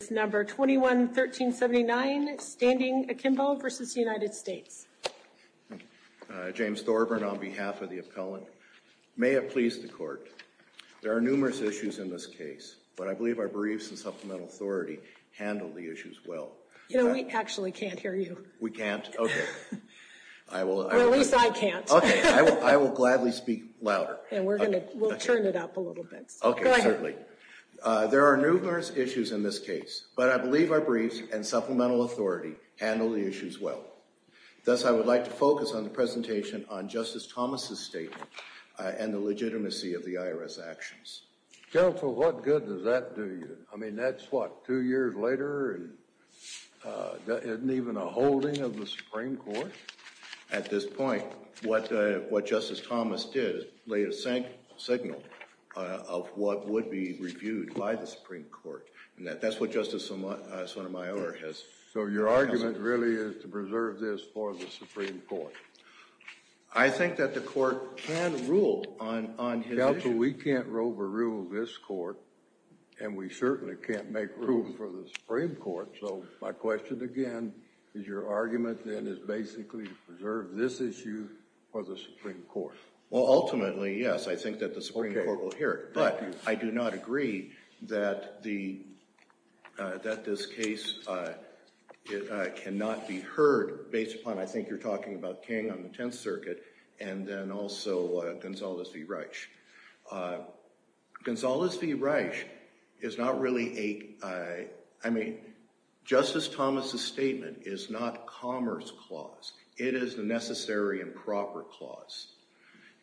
James Thorburn on behalf of the appellant. May it please the court, there are numerous issues in this case, but I believe our briefs and supplemental authority handle the issues well. You know, we actually can't hear you. We can't? Okay. I will, I will. Well, at least I can't. Okay, I will gladly speak louder. And we're going to, we'll turn it up a little bit, so go ahead. Certainly. There are numerous issues in this case, but I believe our briefs and supplemental authority handle the issues well. Thus, I would like to focus on the presentation on Justice Thomas' statement and the legitimacy of the IRS actions. Counsel, what good does that do you? I mean, that's what, two years later and isn't even a holding of the Supreme Court? At this point, what Justice Thomas did laid a signal of what would be reviewed by the Supreme Court. And that's what Justice Sotomayor has. So your argument really is to preserve this for the Supreme Court? I think that the court can rule on his issue. Counsel, we can't overrule this court, and we certainly can't make room for the Supreme Court. So my question, again, is your argument then is basically to preserve this issue for the Supreme Court? Well, ultimately, yes, I think that the Supreme Court will hear it. But I do not agree that this case cannot be heard based upon, I think you're talking about King on the Tenth Circuit, and then also Gonzalez v. Reich. Gonzalez v. Reich is not really a, I mean, Justice Thomas' statement is not commerce clause. It is the necessary and proper clause.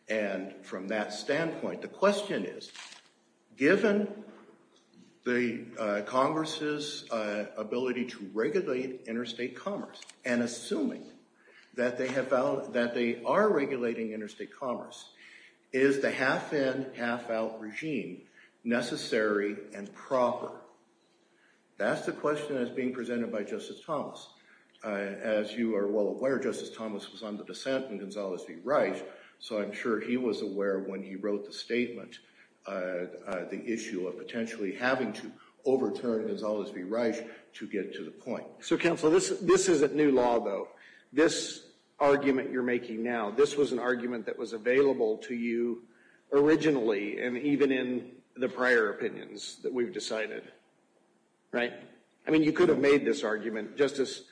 And from that standpoint, the question is, given the Congress' ability to regulate interstate commerce, and assuming that they are regulating interstate commerce, is the half-in, half-out regime necessary and proper? That's the question that's being presented by Justice Thomas. As you are well aware, Justice Thomas was on the dissent in Gonzalez v. Reich, so I'm sure he was aware when he wrote the statement, the issue of potentially having to overturn Gonzalez v. Reich to get to the point. So Counsel, this isn't new law, though. This argument you're making now, this was an argument that was available to you originally and even in the prior opinions that we've decided, right? I mean, you could have made this argument, Justice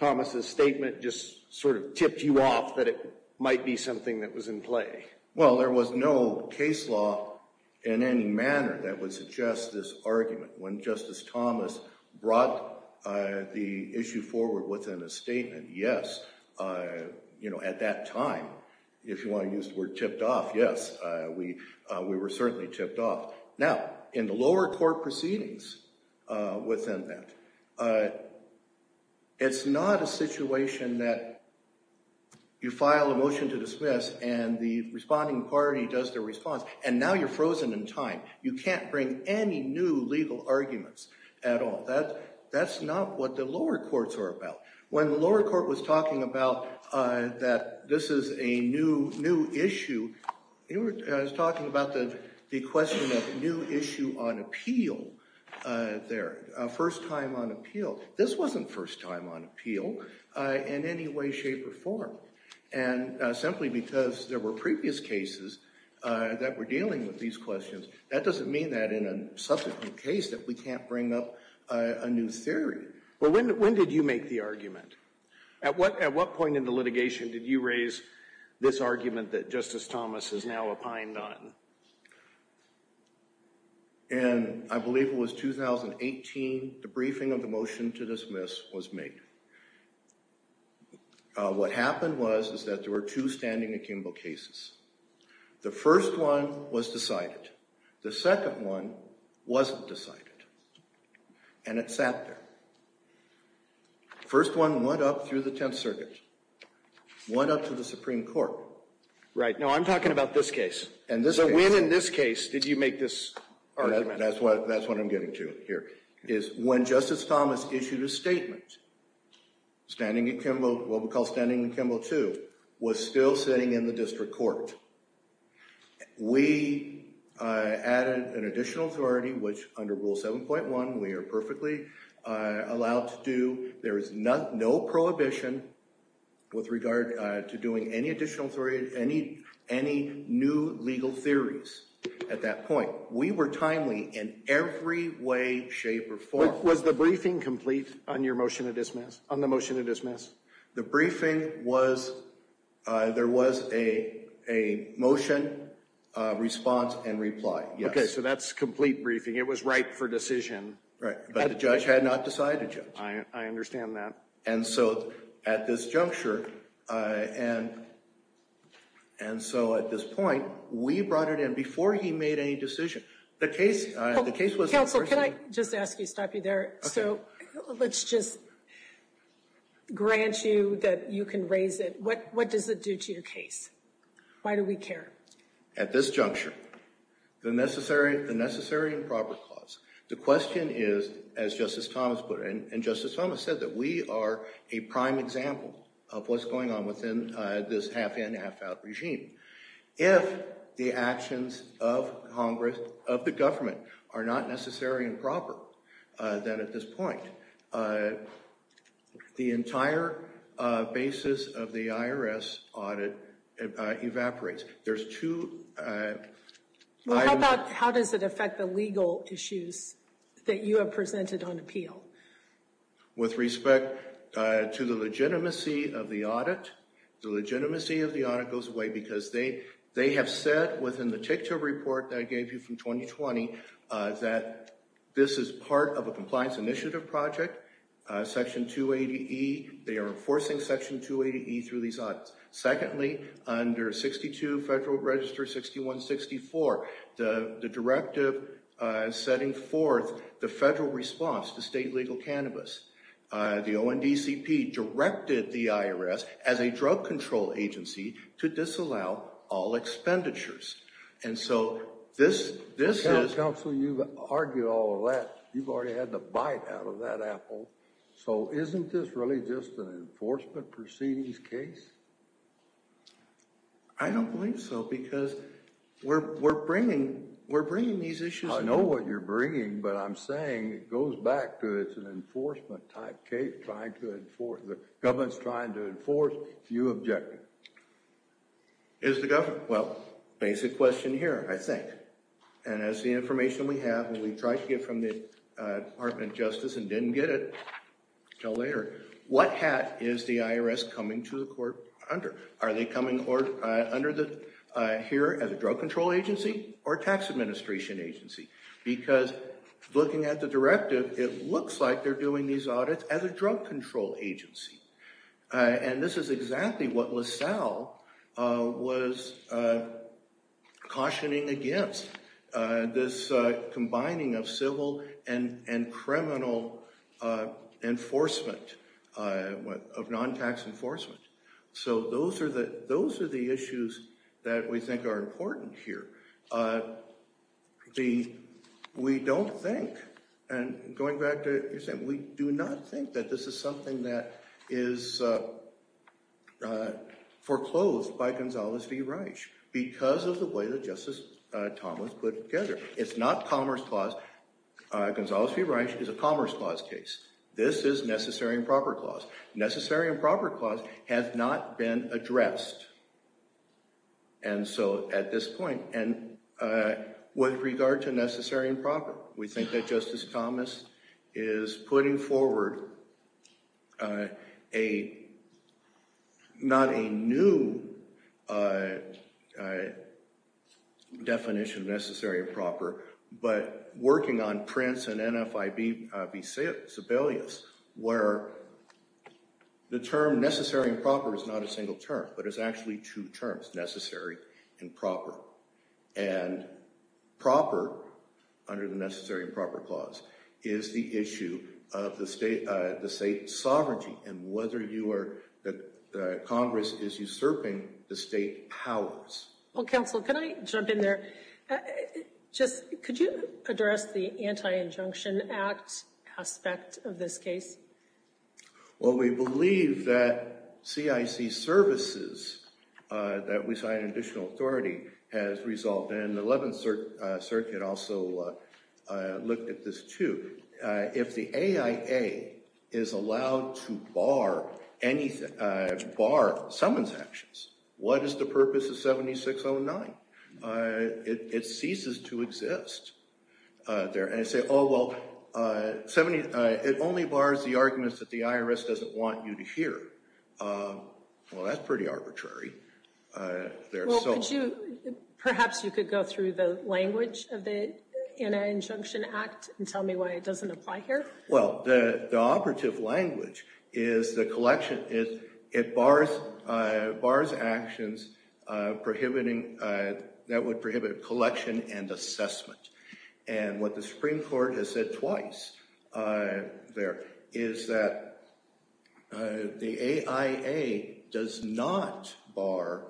Thomas' statement just sort of tipped you off that it might be something that was in play. Well, there was no case law in any manner that would suggest this argument. When Justice Thomas brought the issue forward within a statement, yes, you know, at that time, if you want to use the word tipped off, yes, we were certainly tipped off. Now, in the lower court proceedings within that, it's not a situation that you file a motion to dismiss and the responding party does their response, and now you're frozen in time. You can't bring any new legal arguments at all. That's not what the lower courts are about. When the lower court was talking about that this is a new issue, it was talking about the question of new issue on appeal there, first time on appeal. This wasn't first time on appeal in any way, shape, or form, and simply because there were that doesn't mean that in a subsequent case that we can't bring up a new theory. Well, when did you make the argument? At what point in the litigation did you raise this argument that Justice Thomas is now a pine nun? And I believe it was 2018, the briefing of the motion to dismiss was made. What happened was is that there were two standing in Kimball cases. The first one was decided. The second one wasn't decided, and it sat there. First one went up through the Tenth Circuit, went up to the Supreme Court. Right. Now, I'm talking about this case. And this case. So when in this case did you make this argument? That's what I'm getting to here, is when Justice Thomas issued a statement, standing in Kimball, what we call standing in Kimball 2, was still sitting in the district court. We added an additional authority, which under Rule 7.1 we are perfectly allowed to do. There is no prohibition with regard to doing any additional authority, any new legal theories at that point. We were timely in every way, shape, or form. Was the briefing complete on your motion to dismiss, on the motion to dismiss? The briefing was, there was a motion, response, and reply. Yes. Okay, so that's complete briefing. It was ripe for decision. Right. But the judge had not decided yet. I understand that. And so, at this juncture, and so at this point, we brought it in before he made any decision. The case was. Counsel, can I just ask you, stop you there. Okay. Let's just grant you that you can raise it. What does it do to your case? Why do we care? At this juncture, the necessary and proper clause. The question is, as Justice Thomas put it, and Justice Thomas said that we are a prime example of what's going on within this half-in, half-out regime. If the actions of Congress, of the government, are not necessary and proper, then at this point, the entire basis of the IRS audit evaporates. There's two. Well, how about, how does it affect the legal issues that you have presented on appeal? With respect to the legitimacy of the audit. The legitimacy of the audit goes away because they have said within the tick-toe report that I gave you from 2020, that this is part of a compliance initiative project. Section 280E, they are enforcing Section 280E through these audits. Secondly, under 62 Federal Register 6164, the directive setting forth the federal response to state legal cannabis, the ONDCP directed the IRS, as a drug control agency, to disallow all expenditures. And so, this is... Counsel, you've argued all of that. You've already had the bite out of that apple. So isn't this really just an enforcement proceedings case? I don't believe so because we're bringing these issues... I know what you're bringing, but I'm saying it goes back to it's an enforcement type case, trying to enforce... The government's trying to enforce a few objectives. Is the government... Well, basic question here, I think. And as the information we have, and we tried to get from the Department of Justice and didn't get it until later, what hat is the IRS coming to the court under? Are they coming under here as a drug control agency or a tax administration agency? Because looking at the directive, it looks like they're doing these audits as a drug control agency. And this is exactly what LaSalle was cautioning against, this combining of civil and criminal enforcement, of non-tax enforcement. So those are the issues that we think are important here. We don't think, and going back to what you're saying, we do not think that this is something that is foreclosed by Gonzales v. Reich because of the way that Justice Thomas put it together. It's not Commerce Clause, Gonzales v. Reich is a Commerce Clause case. This is Necessary and Proper Clause. Necessary and Proper Clause has not been addressed. And so at this point, and with regard to Necessary and Proper, we think that Justice Thomas is putting forward a, not a new definition of Necessary and Proper, but working on Prince and NFIB v. Sebelius, where the term Necessary and Proper is not a single term, but it's actually two terms, Necessary and Proper. And Proper, under the Necessary and Proper Clause, is the issue of the state's sovereignty and whether you are, that Congress is usurping the state powers. Well, Counsel, can I jump in there? Could you address the Anti-Injunction Act aspect of this case? Well, we believe that CIC services that we sign an additional authority has resolved, and the 11th Circuit also looked at this too. If the AIA is allowed to bar someone's actions, what is the purpose of 7609? It ceases to exist. And they say, oh, well, it only bars the arguments that the IRS doesn't want you to hear. Well, that's pretty arbitrary. Well, could you, perhaps you could go through the language of the Anti-Injunction Act and tell me why it doesn't apply here? Well, the operative language is the collection, it bars actions prohibiting, that would prohibit collection and assessment. And what the Supreme Court has said twice there is that the AIA does not bar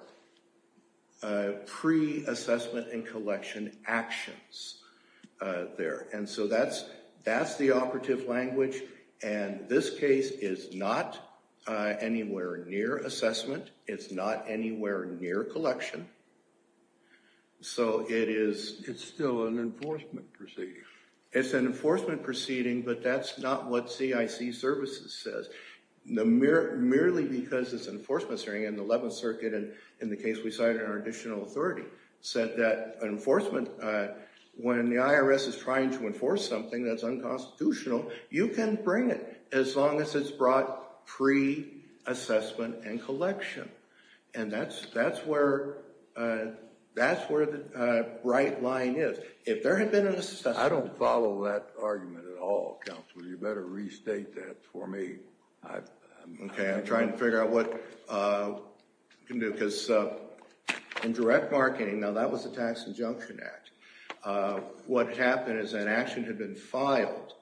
pre-assessment and collection actions there. And so that's the operative language, and this case is not anywhere near assessment, it's not anywhere near collection. So it is... It's still an enforcement proceeding. It's an enforcement proceeding, but that's not what CIC services says. Merely because it's an enforcement hearing in the 11th Circuit, and in the case we cited in our additional authority, said that enforcement, when the IRS is trying to enforce something that's unconstitutional, you can bring it as long as it's brought pre-assessment and collection. And that's where the right line is. If there had been an assessment... I don't follow that argument at all, counsel, you better restate that for me. Okay, I'm trying to figure out what we can do, because in direct marketing, now that was the Tax Injunction Act, what happened is an action had been filed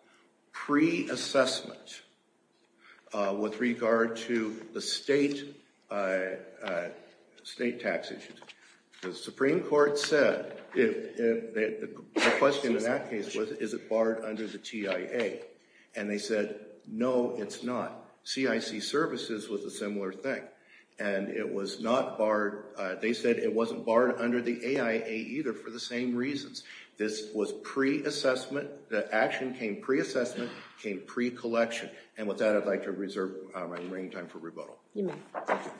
pre-assessment with regard to the state tax issues. The Supreme Court said, the question in that case was, is it barred under the TIA? And they said, no, it's not. CIC services was a similar thing. And it was not barred... They said it wasn't barred under the AIA either, for the same reasons. This was pre-assessment, the action came pre-assessment, came pre-collection. And with that, I'd like to reserve my remaining time for rebuttal. You may. Thank you.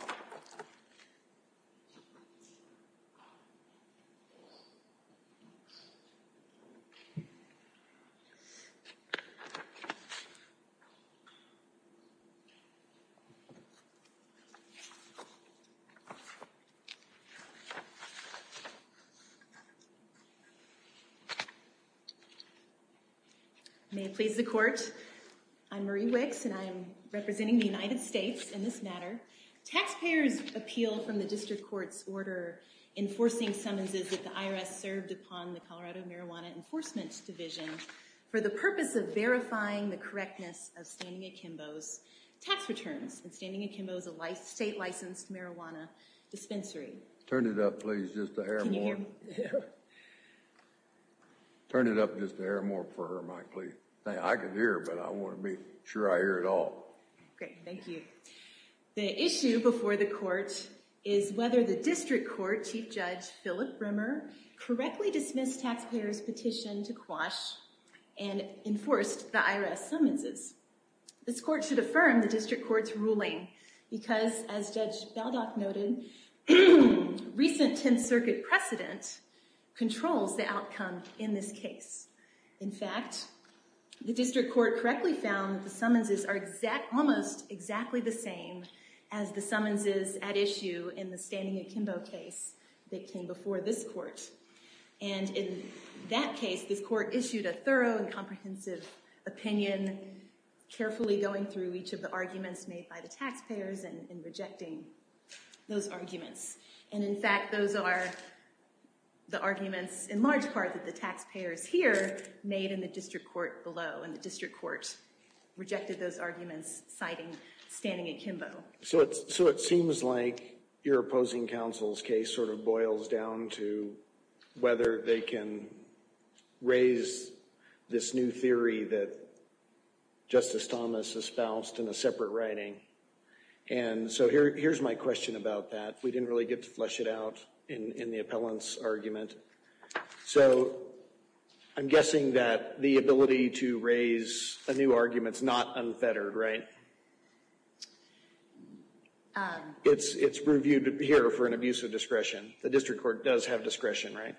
May it please the court, I'm Marie Wicks, and I'm representing the United States in this matter. Taxpayers' appeal from the District Court's order enforcing summonses that the IRS served upon the Colorado Marijuana Enforcement Division for the purpose of verifying the correctness of Standing and Kimbo's tax returns, and Standing and Kimbo's a state-licensed marijuana dispensary. Turn it up, please, just a hair more. Turn it up just a hair more for her, Mike, please. I can hear, but I want to be sure I hear it all. Great. Thank you. The issue before the court is whether the District Court Chief Judge Philip Bremer correctly dismissed taxpayers' petition to quash and enforced the IRS summonses. This court should affirm the District Court's ruling because, as Judge Baldock noted, recent Tenth Circuit precedent controls the outcome in this case. In fact, the District Court correctly found that the summonses are almost exactly the And in that case, this court issued a thorough and comprehensive opinion, carefully going through each of the arguments made by the taxpayers and rejecting those arguments. And in fact, those are the arguments in large part that the taxpayers here made in the District Court below, and the District Court rejected those arguments citing Standing and Kimbo. So it seems like your opposing counsel's case sort of boils down to whether they can raise this new theory that Justice Thomas espoused in a separate writing. And so here's my question about that. We didn't really get to flesh it out in the appellant's argument. So I'm guessing that the ability to raise a new argument's not unfettered, right? It's reviewed here for an abuse of discretion. The District Court does have discretion, right?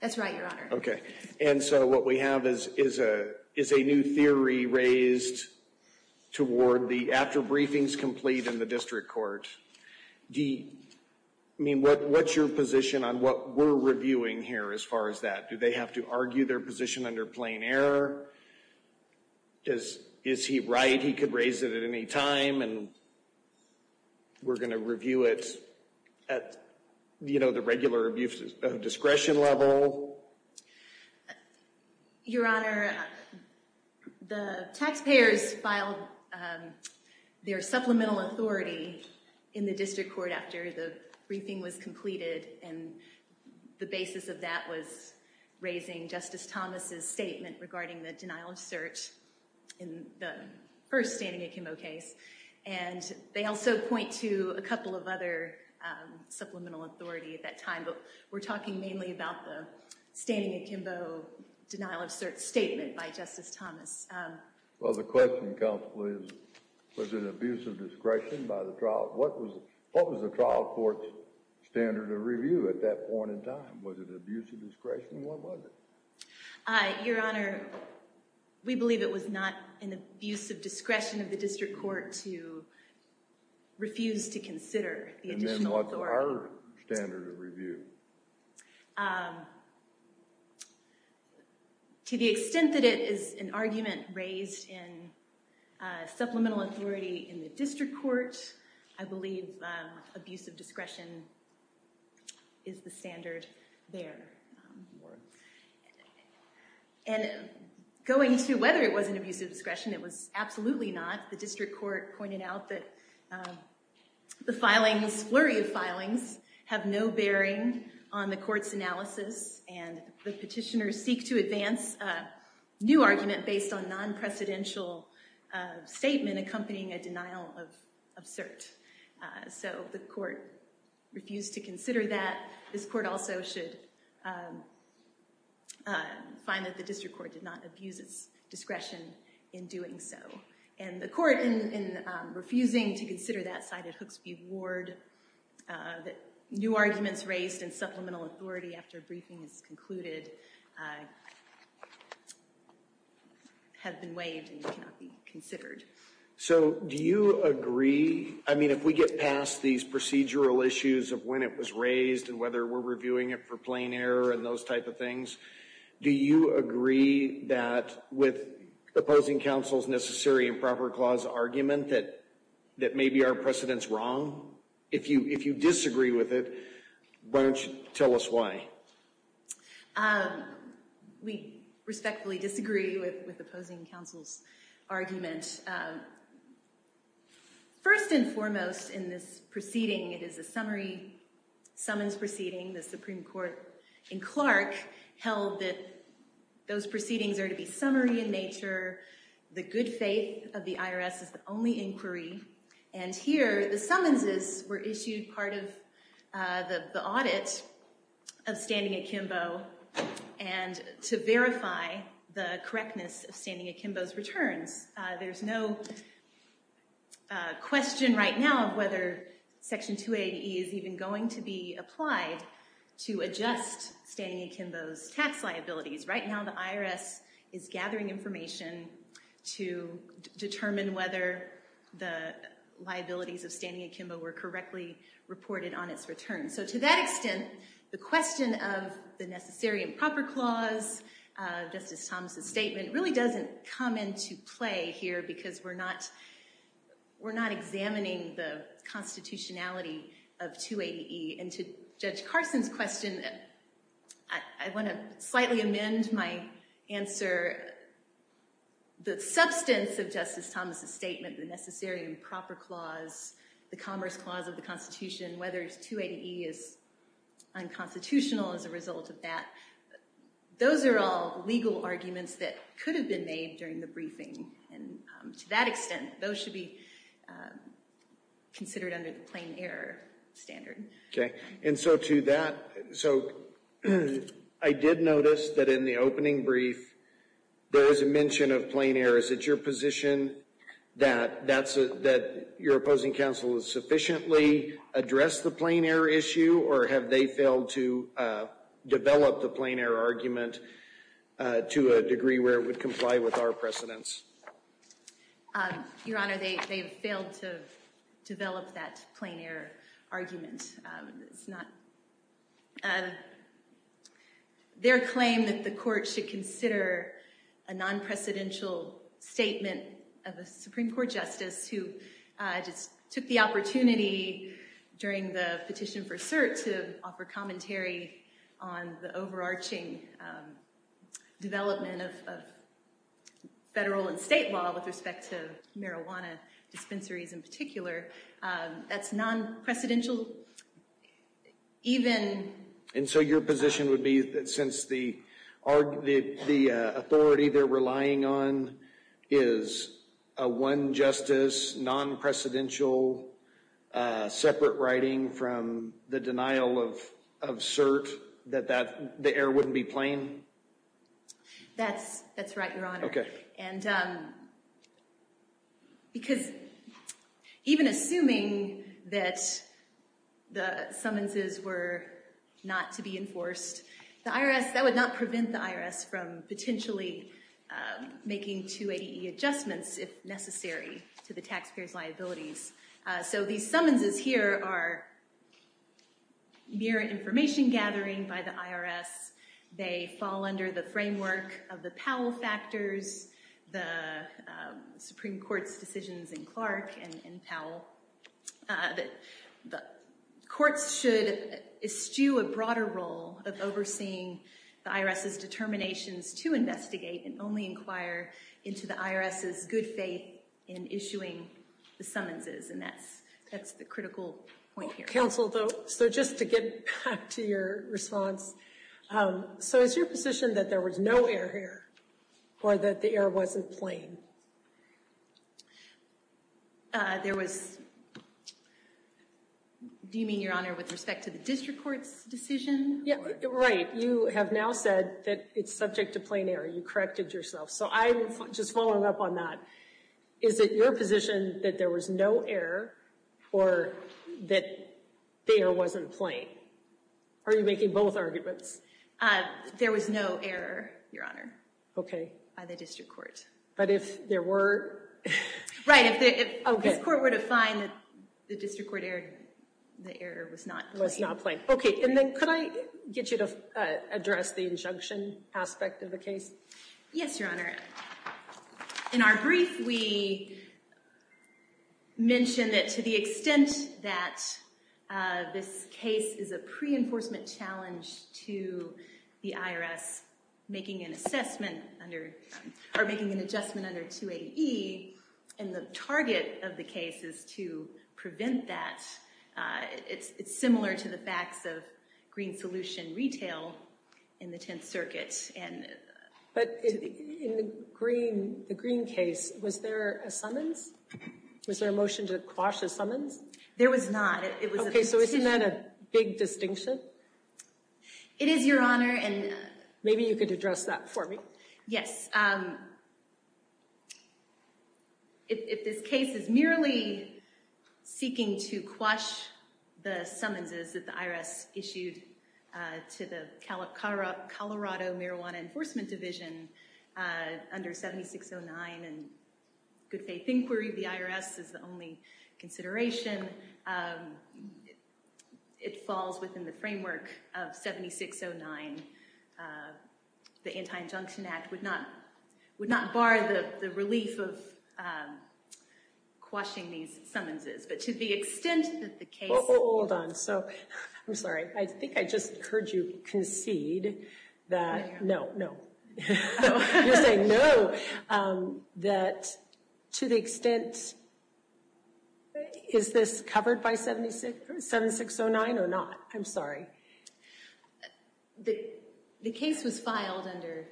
That's right, Your Honor. Okay. And so what we have is a new theory raised toward the after-briefings complete in the District Court. I mean, what's your position on what we're reviewing here as far as that? Do they have to argue their position under plain error? Is he right he could raise it at any time and we're going to review it at, you know, the regular abuse of discretion level? Your Honor, the taxpayers filed their supplemental authority in the District Court after the briefing was completed and the basis of that was raising Justice Thomas's statement regarding the denial of cert in the first standing in Kimbo case. And they also point to a couple of other supplemental authority at that time, but we're talking mainly about the standing in Kimbo denial of cert statement by Justice Thomas. Well, the question comes, please, was it abuse of discretion by the trial? What was the trial court's standard of review at that point in time? Was it abuse of discretion? What was it? Your Honor, we believe it was not an abuse of discretion of the District Court to refuse to consider the additional authority. What was our standard of review? To the extent that it is an argument raised in supplemental authority in the District Court, I believe abuse of discretion is the standard there. And going to whether it was an abuse of discretion, it was absolutely not. The District Court pointed out that the flurry of filings have no bearing on the court's analysis. And the petitioners seek to advance a new argument based on non-precedential statement accompanying a denial of cert. So the court refused to consider that. This court also should find that the District Court did not abuse its discretion in doing so. And the court, in refusing to consider that side at Hooksview Ward, that new arguments raised in supplemental authority after briefing is concluded, have been waived and cannot be considered. So do you agree, I mean, if we get past these procedural issues of when it was raised, and whether we're reviewing it for plain error, and those type of things, do you agree that with opposing counsel's necessary and proper clause argument that maybe our precedent's wrong? If you disagree with it, why don't you tell us why? We respectfully disagree with opposing counsel's argument. First and foremost in this proceeding, it is a summary summons proceeding. The Supreme Court in Clark held that those proceedings are to be summary in nature. The good faith of the IRS is the only inquiry. And here, the summonses were issued part of the audit of standing at Kimbo and to verify the correctness of standing at Kimbo's returns. There's no question right now of whether Section 280E is even going to be applied to adjust standing at Kimbo's tax liabilities. Right now, the IRS is gathering information to determine whether the liabilities of standing at Kimbo were correctly reported on its return. So to that extent, the question of the necessary and proper clause, Justice Thomas' statement, really doesn't come into play here because we're not examining the constitutionality of 280E. And to Judge Carson's question, I want to slightly amend my answer. The substance of Justice Thomas' statement, the necessary and proper clause, the commerce clause of the Constitution, whether 280E is unconstitutional as a result of that, those are all legal arguments that could have been made during the briefing. And to that extent, those should be considered under the plain error standard. OK. And so to that, so I did notice that in the opening brief, there is a mention of plain error. Is it your position that your opposing counsel has sufficiently addressed the plain error issue? Or have they failed to develop the plain error argument to a degree where it would comply with our precedents? Your Honor, they have failed to develop that plain error argument. Their claim that the court should consider a non-precedential statement of a Supreme Court justice who just took the opportunity during the petition for cert to offer commentary on the overarching development of federal and state law with respect to marijuana dispensaries in particular, that's non-precedential? Even? And so your position would be that since the authority they're relying on is a one justice, non-precedential, separate writing from the denial of cert, that the error wouldn't be plain? That's right, Your Honor. OK. And because even assuming that the summonses were not to be enforced, that would not prevent the IRS from potentially making 280E adjustments if necessary to the taxpayers' liabilities. So these summonses here are mere information gathering by the IRS. They fall under the framework of the Powell factors, the Supreme Court's decisions in Clark and Powell, that the courts should eschew a broader role of overseeing the IRS's determinations to investigate and only inquire into the IRS's good faith in issuing the summonses. And that's the critical point here. Counsel, though, so just to get back to your response, so is your position that there was no error here or that the error wasn't plain? There was, do you mean, Your Honor, with respect to the district court's decision? Right. You have now said that it's subject to plain error. You corrected yourself. So I'm just following up on that. Is it your position that there was no error or that the error wasn't plain? Are you making both arguments? There was no error, Your Honor, by the district court. But if there were? Right, if this court were to find that the district court erred, the error was not plain. Was not plain. OK, and then could I get you to address the injunction aspect of the case? Yes, Your Honor. In our brief, we mentioned that to the extent that this case is a pre-enforcement challenge to the IRS making an assessment under, or making an adjustment under 280E, and the target of the case is to prevent that. It's similar to the facts of green solution retail in the 10th Circuit. But in the green case, was there a summons? Was there a motion to quash a summons? There was not. OK, so isn't that a big distinction? It is, Your Honor, and- Maybe you could address that for me. Yes, if this case is merely seeking to quash the summonses that the IRS issued to the Colorado Marijuana Enforcement Division under 7609, and good faith inquiry of the IRS is the only consideration, it falls within the framework of 7609. The Anti-Injunction Act would not bar the relief of quashing these summonses. But to the extent that the case- Hold on, so, I'm sorry, I think I just heard you concede that- No, no. You're saying no, that to the extent, is this covered by 7609 or not? I'm sorry. The case was filed under,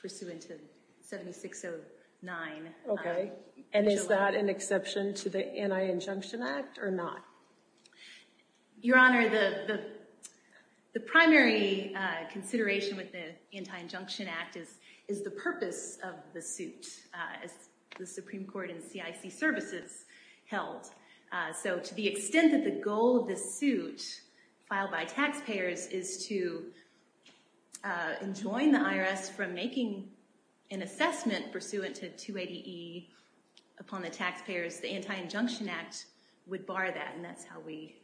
pursuant to 7609. OK, and is that an exception to the Anti-Injunction Act, or not? Your Honor, the primary consideration with the Anti-Injunction Act is the purpose of the suit, as the Supreme Court and CIC services held. So to the extent that the goal of this suit, filed by taxpayers, is to enjoin the IRS from making an assessment, pursuant to 280E, upon the taxpayers, the Anti-Injunction Act would bar that. And that's how we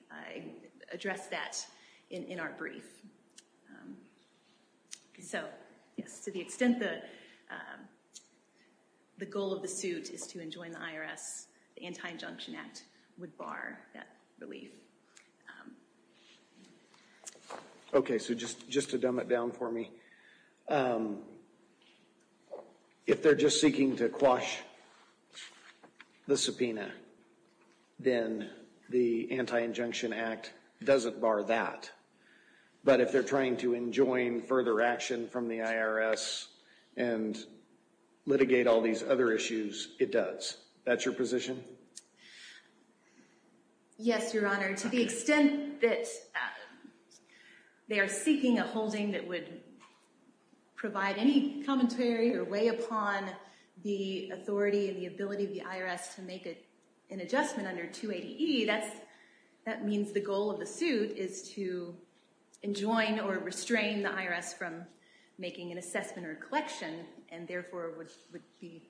address that in our brief. So, yes, to the extent that the goal of the suit is to enjoin the IRS, the Anti-Injunction Act would bar that relief. OK, so just to dumb it down for me. If they're just seeking to quash the subpoena, then the Anti-Injunction Act doesn't bar that. But if they're trying to enjoin further action from the IRS and litigate all these other issues, it does. That's your position? Yes, Your Honor. To the extent that they are seeking a holding that would provide any commentary or weigh upon the authority and the ability of the IRS to make an adjustment under 280E, that means the goal of the suit is to enjoin or restrain the IRS from making an assessment or a collection, and therefore would be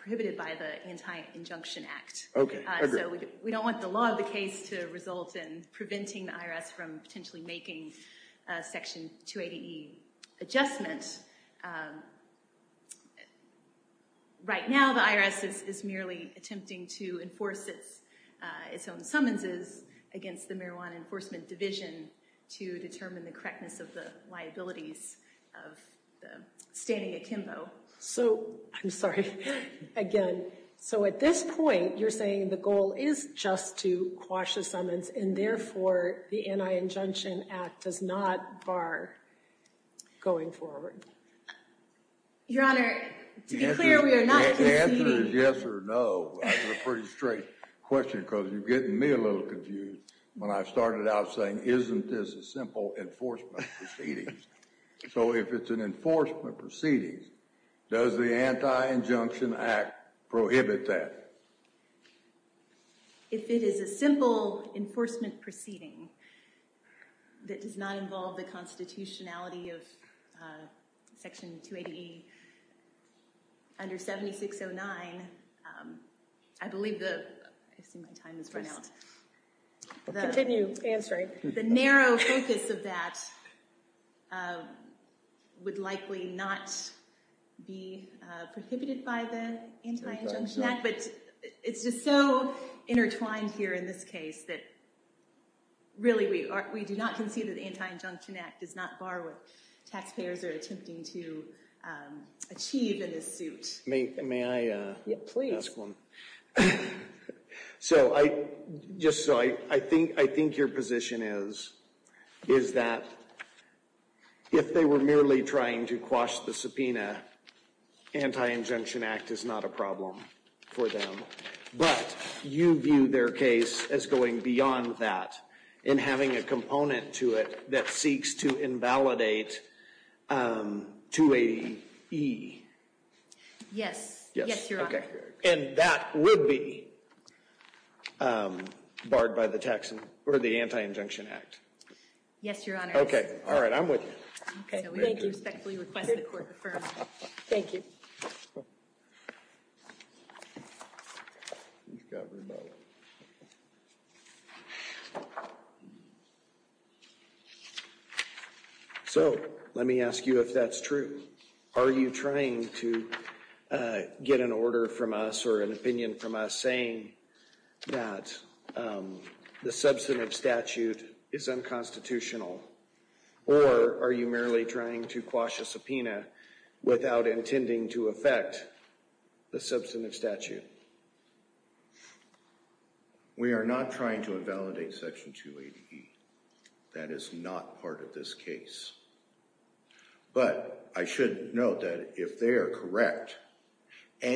prohibited by the Anti-Injunction Act. So we don't want the law of the case to result in preventing the IRS from potentially making Section 280E adjustment. Right now, the IRS is merely attempting to enforce its own summonses against the Marijuana Enforcement Division to determine the correctness of the liabilities of the standing akimbo. So I'm sorry, again. So at this point, you're saying the goal is just to quash a summons, and therefore the Anti-Injunction Act does not bar going forward? Your Honor, to be clear, we are not proceeding. If the answer is yes or no, that's a pretty straight question, because you're getting me a little confused when I started out saying, isn't this a simple enforcement proceeding? So if it's an enforcement proceeding, does the Anti-Injunction Act prohibit that? If it is a simple enforcement proceeding that does not involve the constitutionality of Section 280E under 7609, I believe the narrow focus of that would likely not be prohibited by the Anti-Injunction Act. But it's just so intertwined here in this case that, really, we do not concede that the Anti-Injunction Act does not bar what taxpayers are attempting to achieve in this suit. May I ask one? So just so I think your position is that if they were merely trying to quash the subpoena, Anti-Injunction Act is not a problem for them, but you view their case as going beyond that and having a component to it that seeks to invalidate 280E? Yes. Yes, Your Honor. And that would be barred by the Anti-Injunction Act? Yes, Your Honor. All right, I'm with you. OK, thank you. So we respectfully request that court affirm. Thank you. So let me ask you if that's true. Are you trying to get an order from us or an opinion from us saying that the substantive statute is unconstitutional? Or are you merely trying to quash a subpoena without intending to affect the substantive statute? We are not trying to invalidate Section 280E. That is not part of this case. But I should note that if they are correct, in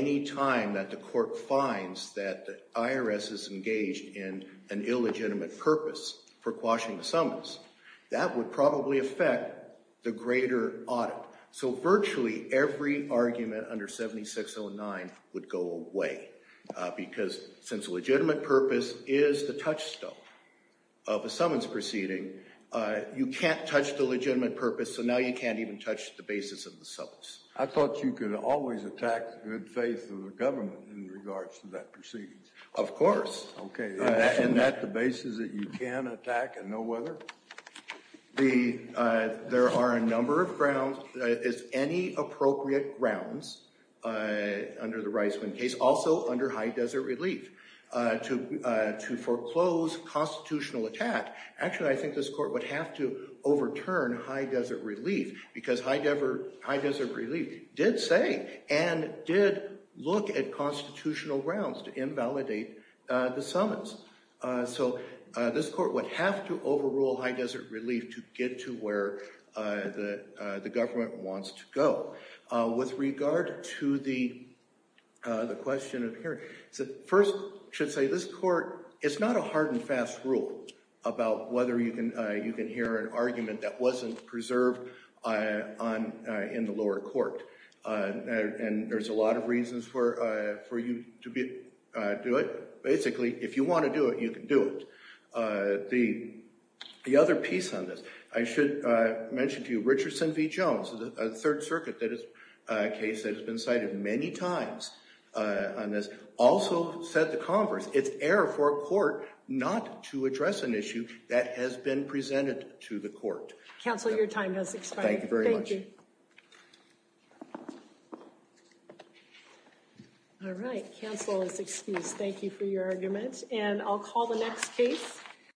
an illegitimate purpose for quashing the summons, that would probably affect the greater audit. So virtually every argument under 7609 would go away, because since a legitimate purpose is the touchstone of a summons proceeding, you can't touch the legitimate purpose, so now you can't even touch the basis of the summons. I thought you could always attack good faith of the government in regards to that proceedings. Of course. Isn't that the basis that you can attack and know whether? There are a number of grounds, if any appropriate grounds, under the Reisman case, also under High Desert Relief, to foreclose constitutional attack. Actually, I think this court would have to overturn High Desert Relief, because High Desert Relief did say and did look at constitutional grounds to invalidate the summons. So this court would have to overrule High Desert Relief to get to where the government wants to go. With regard to the question of hearing, first, I should say this court, it's not a hard and fast rule about whether you can hear an argument that wasn't preserved in the lower court. And there's a lot of reasons for you to do it. Basically, if you want to do it, you can do it. The other piece on this, I should mention to you, Richardson v. Jones, a Third Circuit case that has been cited many times on this, also said the converse. It's error for a court not to address an issue that has been presented to the court. Counsel, your time has expired. Thank you very much. Thank you. All right, counsel is excused. Thank you for your argument. And I'll call the next case.